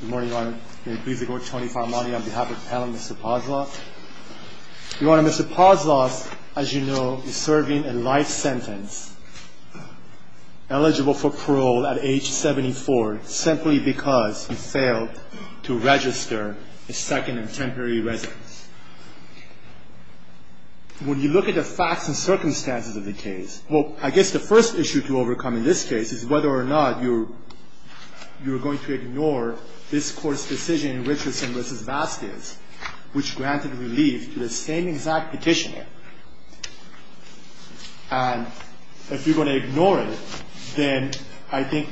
Good morning, Your Honor. May it please the Court, Tony Farmani on behalf of the panel and Mr. Poslof. Your Honor, Mr. Poslof, as you know, is serving a life sentence, eligible for parole at age 74, simply because he failed to register a second and temporary residence. When you look at the facts and circumstances of the case, well, I guess the first issue to overcome in this case is whether or not you're going to ignore this Court's decision in Richardson v. Vasquez, which granted relief to the same exact petitioner. And if you're going to ignore it, then I think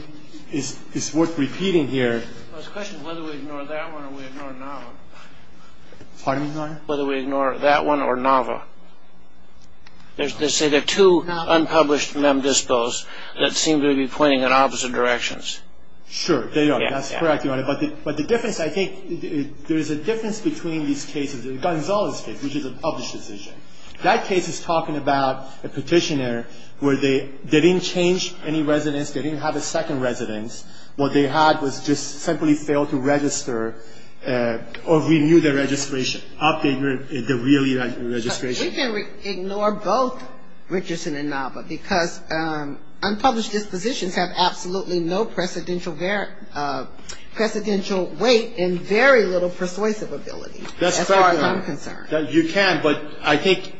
it's worth repeating here. The question is whether we ignore that one or we ignore Nava. Pardon me, Your Honor? Whether we ignore that one or Nava. They say there are two unpublished mem dispos that seem to be pointing in opposite directions. Sure, they are. That's correct, Your Honor. But the difference, I think, there is a difference between these cases, Gonzales case, which is a published decision. That case is talking about a petitioner where they didn't change any residence, they didn't have a second residence. What they had was just simply failed to register or renew their registration, update their real year registration. We can ignore both Richardson and Nava, because unpublished dispositions have absolutely no precedential weight and very little persuasive ability as far as I'm concerned. That's correct, Your Honor. You can, but I think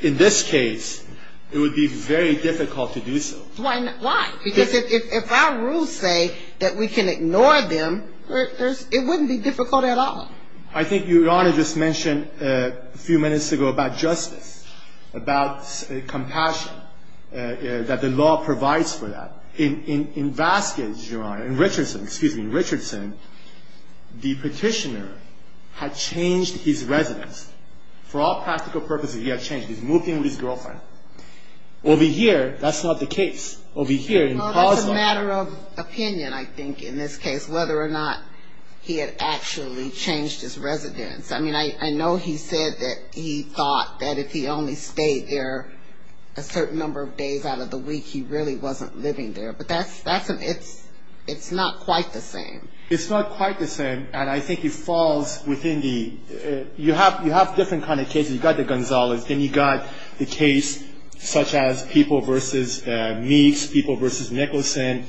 in this case it would be very difficult to do so. Why? Because if our rules say that we can ignore them, it wouldn't be difficult at all. I think Your Honor just mentioned a few minutes ago about justice, about compassion, that the law provides for that. In Vasquez, Your Honor, in Richardson, excuse me, in Richardson, the petitioner had changed his residence. For all practical purposes, he had changed. He had moved in with his girlfriend. Over here, that's not the case. Over here, in Pazzo. Well, that's a matter of opinion, I think, in this case, whether or not he had actually changed his residence. I mean, I know he said that he thought that if he only stayed there a certain number of days out of the week, he really wasn't living there. But that's, it's not quite the same. It's not quite the same, and I think it falls within the, you have different kind of cases. You've got the Gonzalez. Then you've got the case such as people versus Meeks, people versus Nicholson,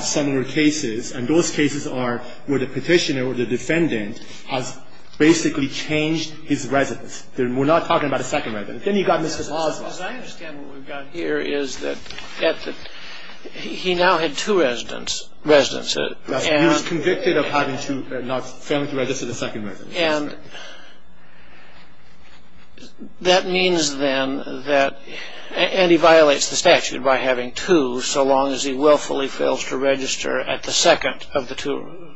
similar cases. And those cases are where the petitioner or the defendant has basically changed his residence. We're not talking about a second residence. Then you've got Mr. Pazzo. As I understand what we've got here is that he now had two residences. He was convicted of having two, not failing to register the second residence. And that means then that, and he violates the statute by having two so long as he willfully fails to register at the second of the two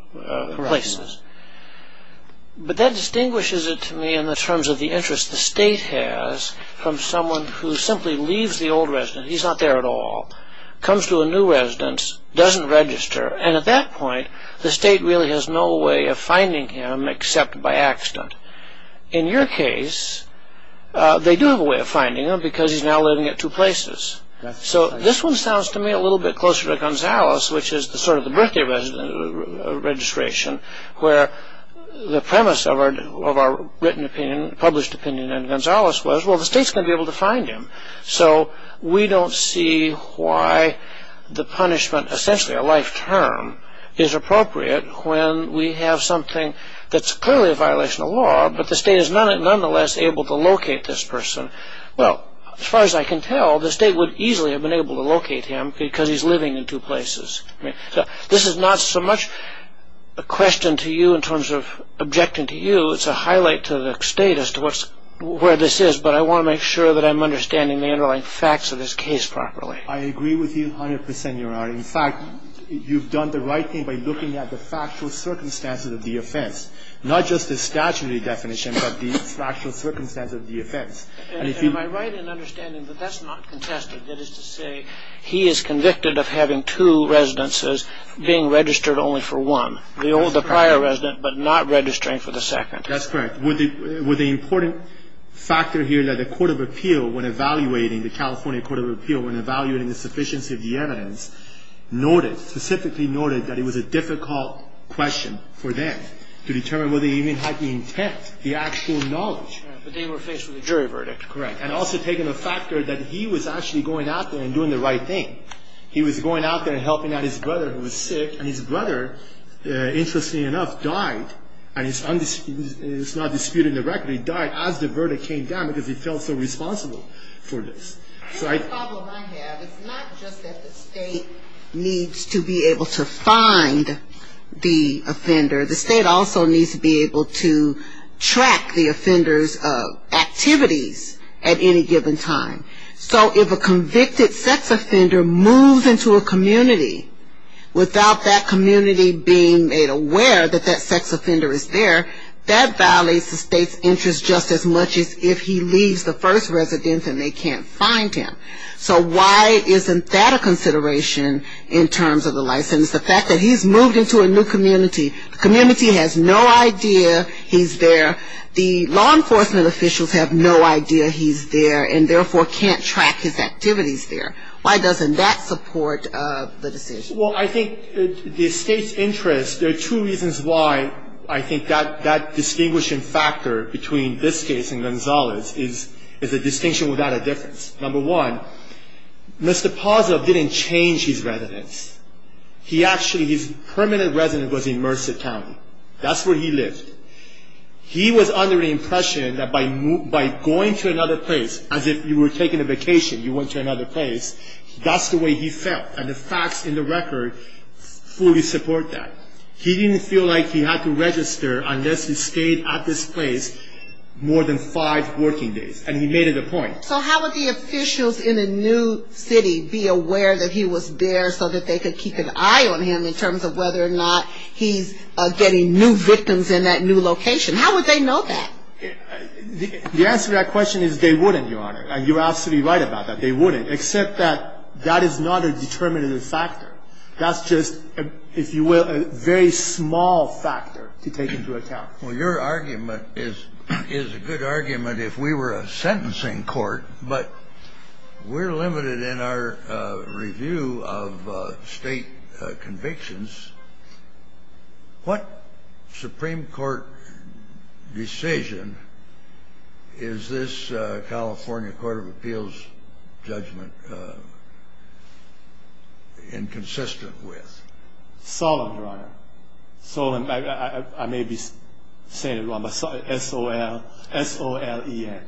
places. But that distinguishes it to me in the terms of the interest the state has from someone who simply leaves the old residence, he's not there at all, comes to a new residence, doesn't register, and at that point the state really has no way of finding him except by accident. In your case, they do have a way of finding him because he's now living at two places. So this one sounds to me a little bit closer to Gonzales which is sort of the birthday registration where the premise of our written opinion, published opinion on Gonzales was well the state's going to be able to find him. So we don't see why the punishment, essentially a life term, is appropriate when we have something that's clearly a violation of law but the state is nonetheless able to locate this person. Well, as far as I can tell, the state would easily have been able to locate him because he's living in two places. This is not so much a question to you in terms of objecting to you, it's a highlight to the state as to where this is but I want to make sure that I'm understanding the underlying facts of this case properly. I agree with you 100 percent, Your Honor. In fact, you've done the right thing by looking at the factual circumstances of the offense, not just the statutory definition but the factual circumstances of the offense. Am I right in understanding that that's not contested, that is to say he is convicted of having two residences being registered only for one, the prior resident but not registering for the second? That's correct. Would the important factor here that the Court of Appeal when evaluating, the California Court of Appeal when evaluating the sufficiency of the evidence noted, specifically noted that it was a difficult question for them to determine whether he even had the intent, the actual knowledge. But they were faced with a jury verdict. Correct. And also taking a factor that he was actually going out there and doing the right thing. He was going out there and helping out his brother who was sick and his brother, interestingly enough, died, and it's not disputed directly, died as the verdict came down because he felt so responsible for this. The problem I have is not just that the state needs to be able to find the offender, the state also needs to be able to track the offender's activities at any given time. So if a convicted sex offender moves into a community without that community being made aware that that sex offender is there, that violates the state's interest just as much as if he leaves the first residence and they can't find him. So why isn't that a consideration in terms of the license? The fact that he's moved into a new community, the community has no idea he's there, the law enforcement officials have no idea he's there and therefore can't track his activities there. Why doesn't that support the decision? Well, I think the state's interest, there are two reasons why I think that that distinguishing factor between this case and Gonzalez is a distinction without a difference. Number one, Mr. Pazov didn't change his residence. He actually, his permanent residence was in Merced County. That's where he lived. He was under the impression that by going to another place, as if you were taking a vacation, you went to another place, that's the way he felt and the facts in the record fully support that. He didn't feel like he had to register unless he stayed at this place more than five working days and he made it a point. So how would the officials in a new city be aware that he was there so that they could keep an eye on him in terms of whether or not he's getting new victims in that new location? How would they know that? The answer to that question is they wouldn't, Your Honor. You're absolutely right about that. They wouldn't, except that that is not a determinative factor. That's just, if you will, a very small factor to take into account. Well, your argument is a good argument if we were a sentencing court, but we're limited in our review of state convictions. What Supreme Court decision is this California Court of Appeals judgment inconsistent with? Solemn, Your Honor. Solemn, I may be saying it wrong, but S-O-L-E-N.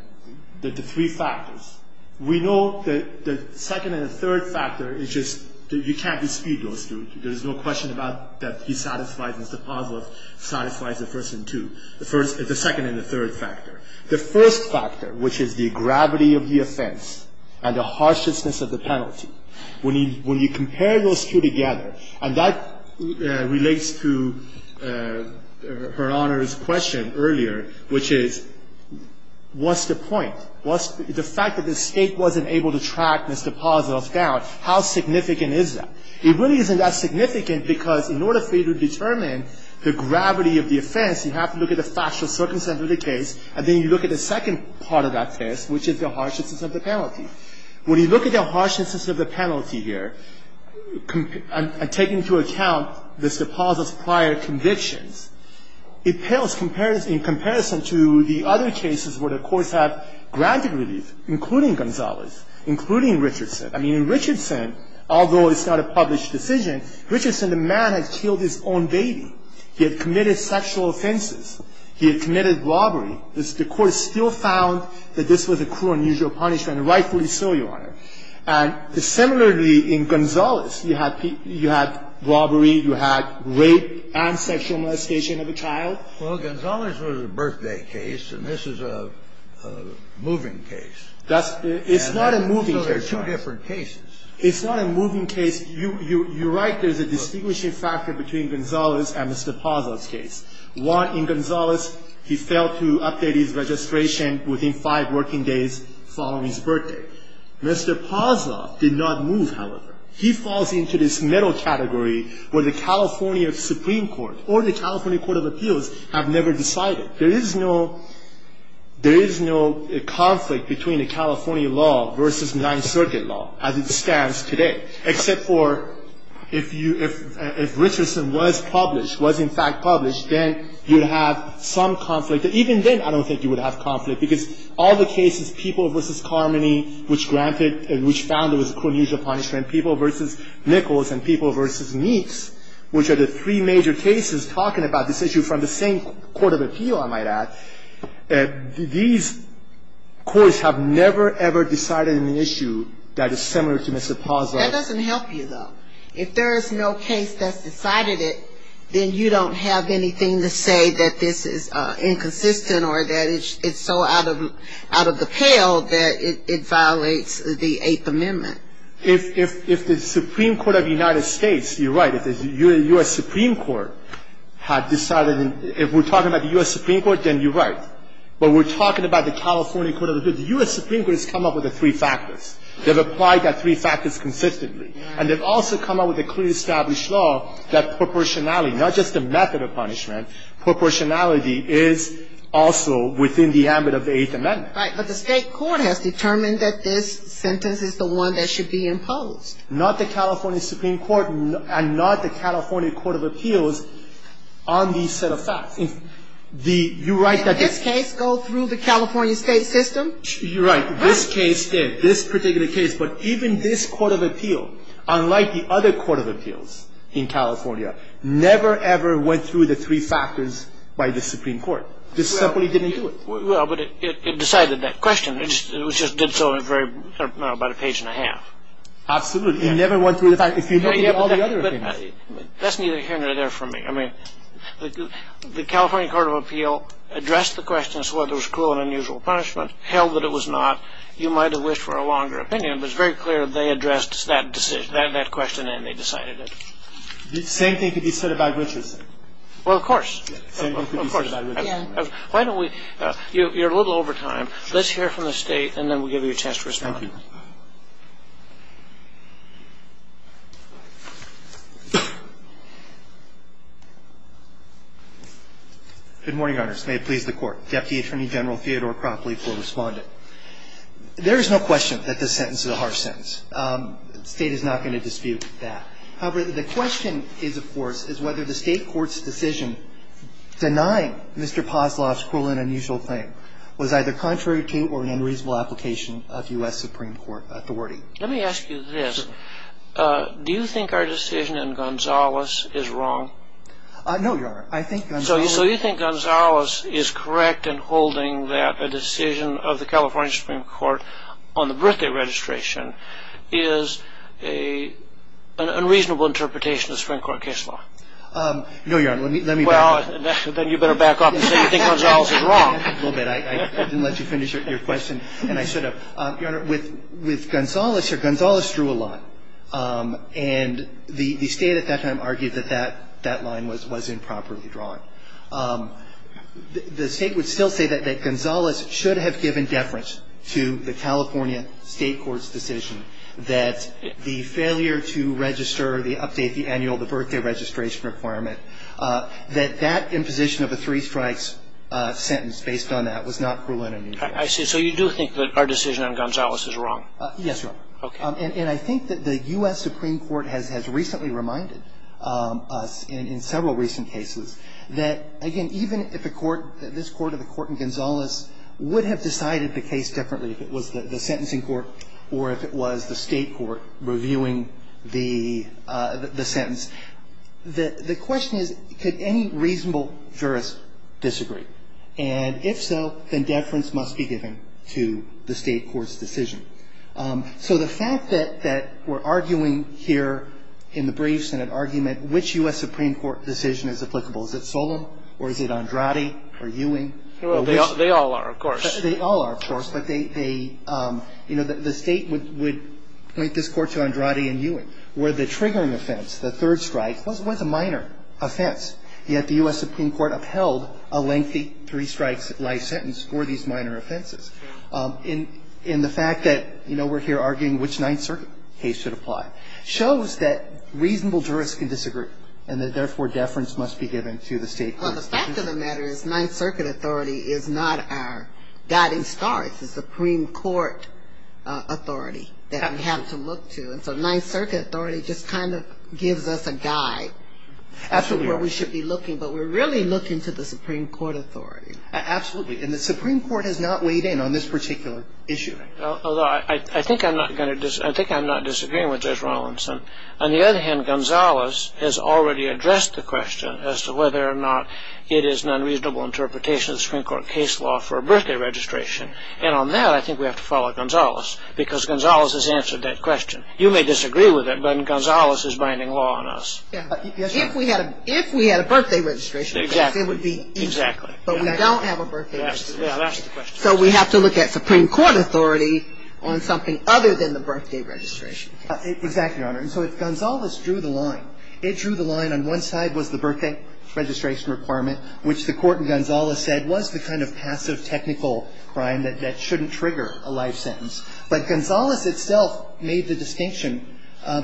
The three factors. We know the second and the third factor is just that you can't dispute those two. There's no question about that he satisfies, Mr. Pazos satisfies the first and two, the second and the third factor. The first factor, which is the gravity of the offense and the harshness of the penalty, when you compare those two together, and that relates to Her Honor's question earlier, which is what's the point? The fact that the State wasn't able to track Mr. Pazos down, how significant is that? It really isn't that significant because in order for you to determine the gravity of the offense, you have to look at the factual circumstance of the case, and then you look at the second part of that case, which is the harshness of the penalty. When you look at the harshness of the penalty here and take into account Mr. Pazos' prior convictions, it pales in comparison to the other cases where the courts have granted relief, including Gonzalez, including Richardson. I mean, in Richardson, although it's not a published decision, Richardson, the man had killed his own baby. He had committed sexual offenses. He had committed robbery. The court still found that this was a cruel and unusual punishment, and rightfully so, Your Honor. And similarly, in Gonzalez, you had robbery, you had rape and sexual molestation of a child. Well, Gonzalez was a birthday case, and this is a moving case. It's not a moving case. So there are two different cases. It's not a moving case. You're right. There's a distinguishing factor between Gonzalez and Mr. Pazos' case. One, in Gonzalez, he failed to update his registration within five working days following his birthday. Mr. Pazos did not move, however. He falls into this middle category where the California Supreme Court or the California Court of Appeals have never decided. There is no conflict between the California law versus Ninth Circuit law, as it stands today. Except for if you ‑‑ if Richardson was published, was in fact published, then you would have some conflict. Even then, I don't think you would have conflict, because all the cases, People v. Carmody, which granted ‑‑ which found it was a cruel and unusual punishment, People v. Nichols and People v. Meeks, which are the three major cases talking about this issue from the same court of appeal, I might add, these courts have never, ever decided on an issue that is similar to Mr. Pazos. That doesn't help you, though. If there is no case that's decided it, then you don't have anything to say that this is inconsistent or that it's so out of the pale that it violates the Eighth Amendment. If the Supreme Court of the United States, you're right, if the U.S. Supreme Court had decided, if we're talking about the U.S. Supreme Court, then you're right. But we're talking about the California Court of Appeals. The U.S. Supreme Court has come up with the three factors. They've applied that three factors consistently. And they've also come up with a clearly established law that proportionality, not just a method of punishment, proportionality is also within the ambit of the Eighth Amendment. Right. But the state court has determined that this sentence is the one that should be imposed. Not the California Supreme Court and not the California Court of Appeals on the set of facts. You're right. Did this case go through the California state system? You're right. This case did. This particular case. But even this Court of Appeal, unlike the other Court of Appeals in California, never, ever went through the three factors by the Supreme Court. It simply didn't do it. Well, but it decided that question. It just did so in a very, I don't know, about a page and a half. Absolutely. It never went through the fact. It came up with all the other things. That's neither here nor there for me. I mean, the California Court of Appeal addressed the question as to whether it was a longer opinion. It was very clear they addressed that decision, that question, and they decided it. The same thing could be said about riches. Well, of course. The same thing could be said about riches. Yeah. Why don't we, you're a little over time. Let's hear from the State and then we'll give you a chance to respond. Thank you. Good morning, Your Honors. May it please the Court. I'm going to leave it to Deputy Attorney General Theodore Crockley to respond to it. There is no question that this sentence is a harsh sentence. The State is not going to dispute that. However, the question is, of course, is whether the State Court's decision denying Mr. Poslarf's cruel and unusual claim was either contrary to or an unreasonable application of U.S. Supreme Court authority. Let me ask you this. Do you think our decision in Gonzales is wrong? No, Your Honor. So you think Gonzales is correct in holding that a decision of the California Supreme Court on the birthday registration is an unreasonable interpretation of Supreme Court case law? No, Your Honor. Let me back up. Then you better back up and say you think Gonzales is wrong. I didn't let you finish your question. And I should have. Your Honor, with Gonzales here, Gonzales drew a line. And the State at that time argued that that line was improperly drawn. The State would still say that Gonzales should have given deference to the California State Court's decision that the failure to register the update, the annual, the birthday registration requirement, that that imposition of a three-strikes sentence based on that was not cruel and unusual. I see. So you do think that our decision on Gonzales is wrong? Yes, Your Honor. Okay. And I think that the U.S. Supreme Court has recently reminded us in several recent cases that, again, even if the court, this court or the court in Gonzales would have decided the case differently if it was the sentencing court or if it was the State court reviewing the sentence, the question is could any reasonable jurist disagree? And if so, then deference must be given to the State court's decision. So the fact that we're arguing here in the brief Senate argument which U.S. Supreme Court decision is applicable, is it Solem or is it Andrade or Ewing? They all are, of course. They all are, of course. But they, you know, the State would point this court to Andrade and Ewing where the triggering offense, the third strike, was a minor offense, yet the U.S. Supreme Court would not make a three strikes life sentence for these minor offenses. And the fact that, you know, we're here arguing which Ninth Circuit case should apply shows that reasonable jurists can disagree and that, therefore, deference must be given to the State court's decision. Well, the fact of the matter is Ninth Circuit authority is not our guiding star. It's the Supreme Court authority that we have to look to. And so Ninth Circuit authority just kind of gives us a guide as to where we should be looking, but we're really looking to the Supreme Court authority. Absolutely. And the Supreme Court has not weighed in on this particular issue. Although I think I'm not going to disagree. I think I'm not disagreeing with Judge Rawlinson. On the other hand, Gonzalez has already addressed the question as to whether or not it is an unreasonable interpretation of the Supreme Court case law for a birthday registration. And on that, I think we have to follow Gonzalez because Gonzalez has answered that question. You may disagree with it, but Gonzalez is binding law on us. If we had a birthday registration case, it would be easy. Exactly. But we don't have a birthday registration case. That's the question. So we have to look at Supreme Court authority on something other than the birthday registration case. Exactly, Your Honor. And so if Gonzalez drew the line, it drew the line on one side was the birthday registration requirement, which the Court in Gonzalez said was the kind of passive technical crime that shouldn't trigger a life sentence. But Gonzalez itself made the distinction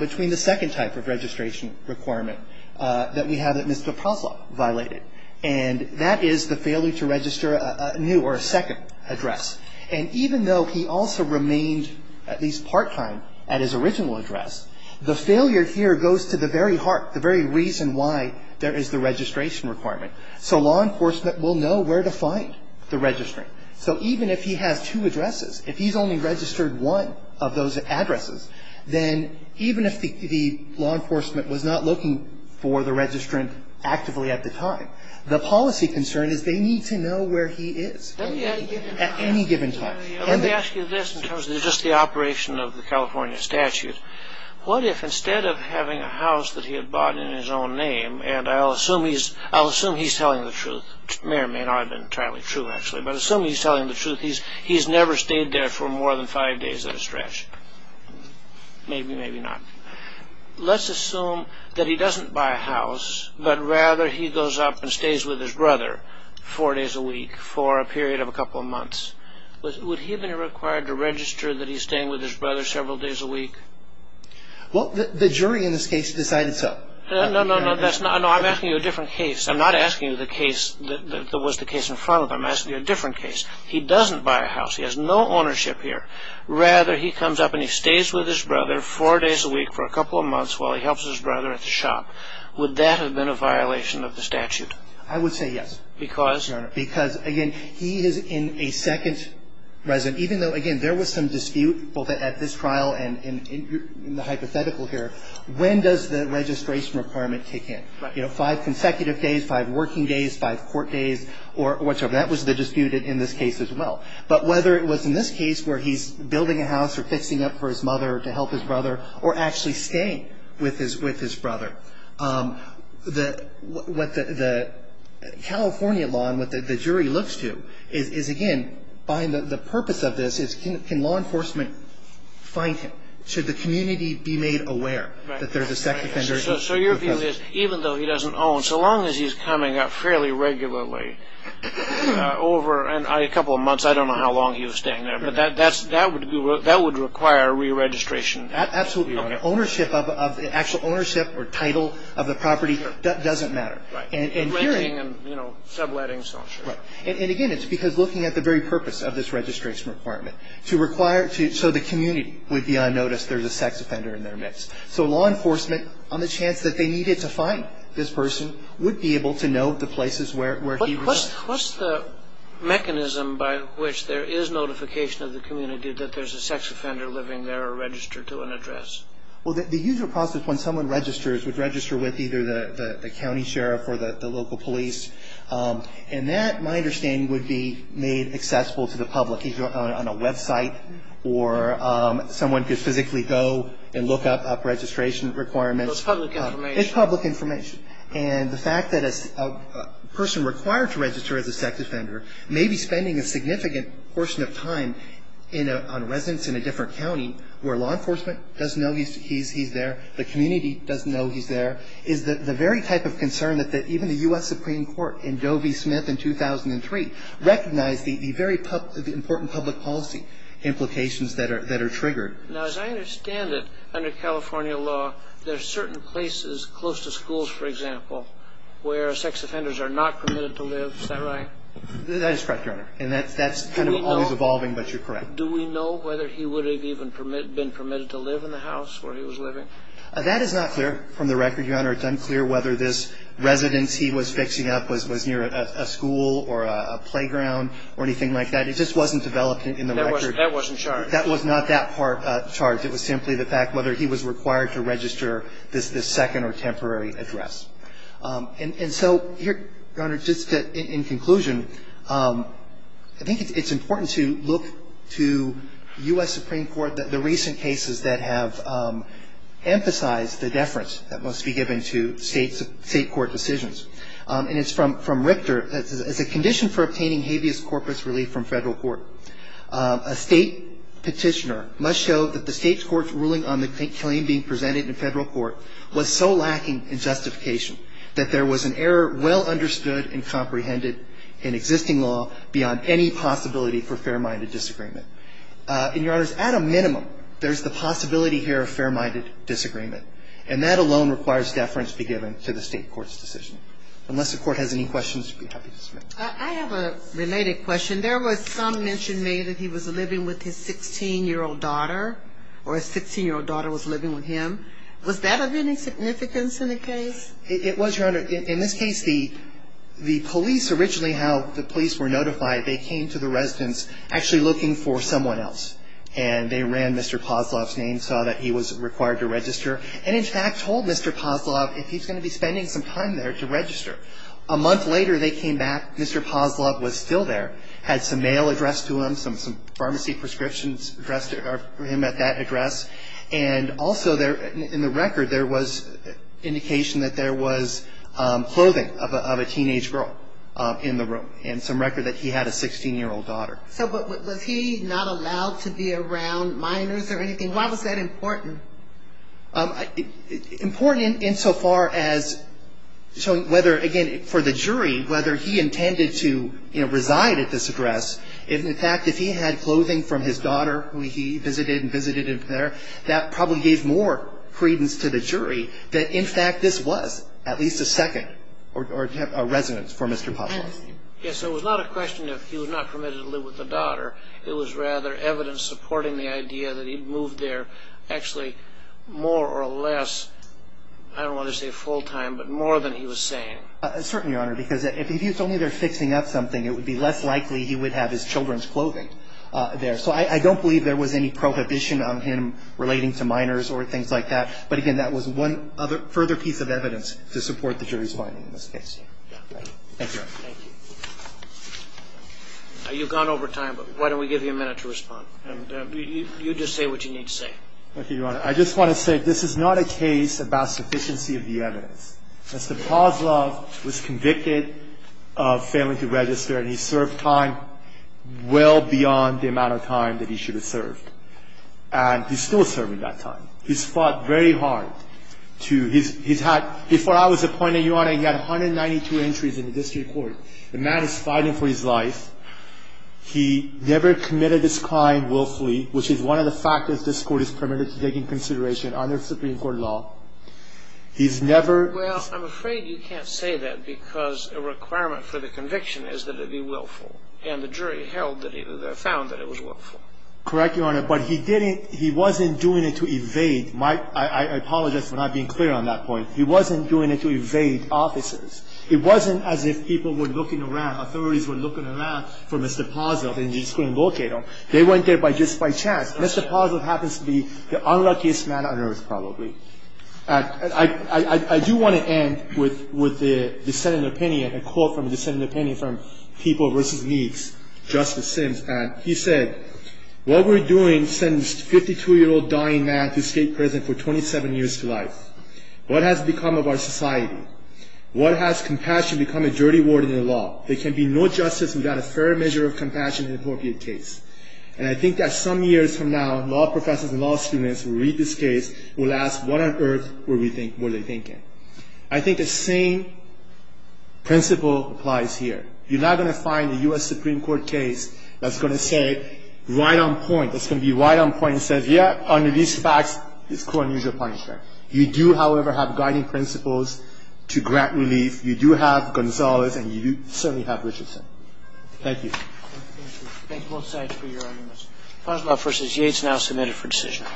between the second type of registration requirement that we have that Mr. Poslow violated. And that is the failure to register a new or a second address. And even though he also remained at least part-time at his original address, the failure here goes to the very heart, the very reason why there is the registration requirement. So law enforcement will know where to find the registry. So even if he has two addresses, if he's only registered one of those addresses, then even if the law enforcement was not looking for the registrant actively at the time, the policy concern is they need to know where he is at any given time. Let me ask you this in terms of just the operation of the California statute. What if instead of having a house that he had bought in his own name, and I'll assume he's telling the truth, may or may not have been entirely true, actually, but assume he's telling the truth, he's never stayed there for more than five days at a stretch. Maybe, maybe not. Let's assume that he doesn't buy a house, but rather he goes up and stays with his brother four days a week for a period of a couple of months. Would he have been required to register that he's staying with his brother several days a week? Well, the jury in this case decided so. No, no, no. I'm asking you a different case. I'm not asking you the case that was the case in front of him. I'm asking you a different case. He doesn't buy a house. He has no ownership here. Rather, he comes up and he stays with his brother four days a week for a couple of months while he helps his brother at the shop. Would that have been a violation of the statute? I would say yes. Because? Because, again, he is in a second residence, even though, again, there was some dispute both at this trial and in the hypothetical here. When does the registration requirement kick in? You know, five consecutive days, five working days, five court days, or whichever. That was the dispute in this case as well. But whether it was in this case where he's building a house or fixing up for his mother to help his brother or actually staying with his brother, what the California law and what the jury looks to is, again, the purpose of this is can law enforcement find him? Should the community be made aware that there's a sex offender? So your view is even though he doesn't own, so long as he's coming up fairly regularly over a couple of months, I don't know how long he was staying there. But that would require reregistration. Absolutely. Ownership of the actual ownership or title of the property doesn't matter. Right. Renting and, you know, subletting. Right. And, again, it's because looking at the very purpose of this registration requirement, to require so the community would be on notice there's a sex offender in their midst. So law enforcement, on the chance that they needed to find this person, would be able to know the places where he was. What's the mechanism by which there is notification of the community that there's a sex offender living there or registered to an address? Well, the usual process when someone registers would register with either the county sheriff or the local police. And that, my understanding, would be made accessible to the public either on a website or someone could physically go and look up registration requirements. It's public information. It's public information. And the fact that a person required to register as a sex offender may be spending a significant portion of time on residence in a different county where law enforcement doesn't know he's there, the community doesn't know he's there, is the very type of concern that even the U.S. Supreme Court in Doe v. Smith in 2003 recognized the very important public policy implications that are triggered. Now, as I understand it, under California law, there are certain places close to schools, for example, where sex offenders are not permitted to live. Is that right? That is correct, Your Honor. And that's kind of always evolving, but you're correct. Do we know whether he would have even been permitted to live in the house where he was living? That is not clear from the record, Your Honor. It's unclear whether this residence he was fixing up was near a school or a playground or anything like that. It just wasn't developed in the record. That wasn't charged. That was not that part charged. It was simply the fact whether he was required to register this second or temporary address. And so, Your Honor, just in conclusion, I think it's important to look to U.S. Supreme Court, the recent cases that have emphasized the deference that must be given to state court decisions. And it's from Richter. As a condition for obtaining habeas corpus relief from federal court, a state petitioner must show that the state court's ruling on the claim being presented in federal court was so lacking in justification that there was an error well understood and comprehended in existing law beyond any possibility for fair-minded disagreement. And, Your Honors, at a minimum, there's the possibility here of fair-minded disagreement. And that alone requires deference to be given to the state court's decision. Unless the court has any questions, I'd be happy to submit. I have a related question. There was some mention made that he was living with his 16-year-old daughter, or his 16-year-old daughter was living with him. Was that of any significance in the case? It was, Your Honor. In this case, the police originally, how the police were notified, they came to the residence actually looking for someone else. And they ran Mr. Pozlov's name, saw that he was required to register, and in fact told Mr. Pozlov if he's going to be spending some time there to register. A month later, they came back. Mr. Pozlov was still there, had some mail addressed to him, some pharmacy prescriptions addressed to him at that address. And also, in the record, there was indication that there was clothing of a teenage girl in the room, and some record that he had a 16-year-old daughter. So was he not allowed to be around minors or anything? Why was that important? Important insofar as showing whether, again, for the jury, whether he intended to, you know, reside at this address. In fact, if he had clothing from his daughter who he visited and visited him there, that probably gave more credence to the jury that, in fact, this was at least a second residence for Mr. Pozlov. Yes, it was not a question of he was not permitted to live with the daughter. It was rather evidence supporting the idea that he'd moved there actually more or less, I don't want to say full-time, but more than he was saying. Certainly, Your Honor, because if he was only there fixing up something, it would be less likely he would have his children's clothing there. So I don't believe there was any prohibition on him relating to minors or things like that. But, again, that was one further piece of evidence to support the jury's finding in this case. Thank you, Your Honor. Thank you. You've gone over time, but why don't we give you a minute to respond. And you just say what you need to say. Okay, Your Honor. I just want to say this is not a case about sufficiency of the evidence. Mr. Pozlov was convicted of failing to register, and he served time well beyond the amount of time that he should have served. And he's still serving that time. He's fought very hard to his – he's had – before I was appointed, Your Honor, he had 192 entries in the district court. The man is fighting for his life. He never committed this crime willfully, which is one of the factors this Court is permitted to take into consideration under Supreme Court law. He's never – Well, I'm afraid you can't say that because a requirement for the conviction is that it be willful. And the jury held that – found that it was willful. Correct, Your Honor. But he didn't – he wasn't doing it to evade my – I apologize for not being clear on that point. He wasn't doing it to evade officers. It wasn't as if people were looking around, authorities were looking around for Mr. Pozlov and just couldn't locate him. They went there just by chance. Mr. Pozlov happens to be the unluckiest man on earth probably. I do want to end with a dissenting opinion, a quote from a dissenting opinion from People v. Meeks, Justice Sims, and he said, What we're doing sends 52-year-old dying man to state prison for 27 years to life. What has become of our society? What has compassion become a dirty word in the law? There can be no justice without a fair measure of compassion in an appropriate case. And I think that some years from now, law professors and law students will read this case, will ask, what on earth were they thinking? I think the same principle applies here. You're not going to find a U.S. Supreme Court case that's going to say right on point, that's going to be right on point and says, yeah, under these facts, this court needs your punishment. You do, however, have guiding principles to grant relief. You do have Gonzalez and you certainly have Richardson. Thank you. Thank you both sides for your arguments. Pozlov v. Yates now submitted for decision.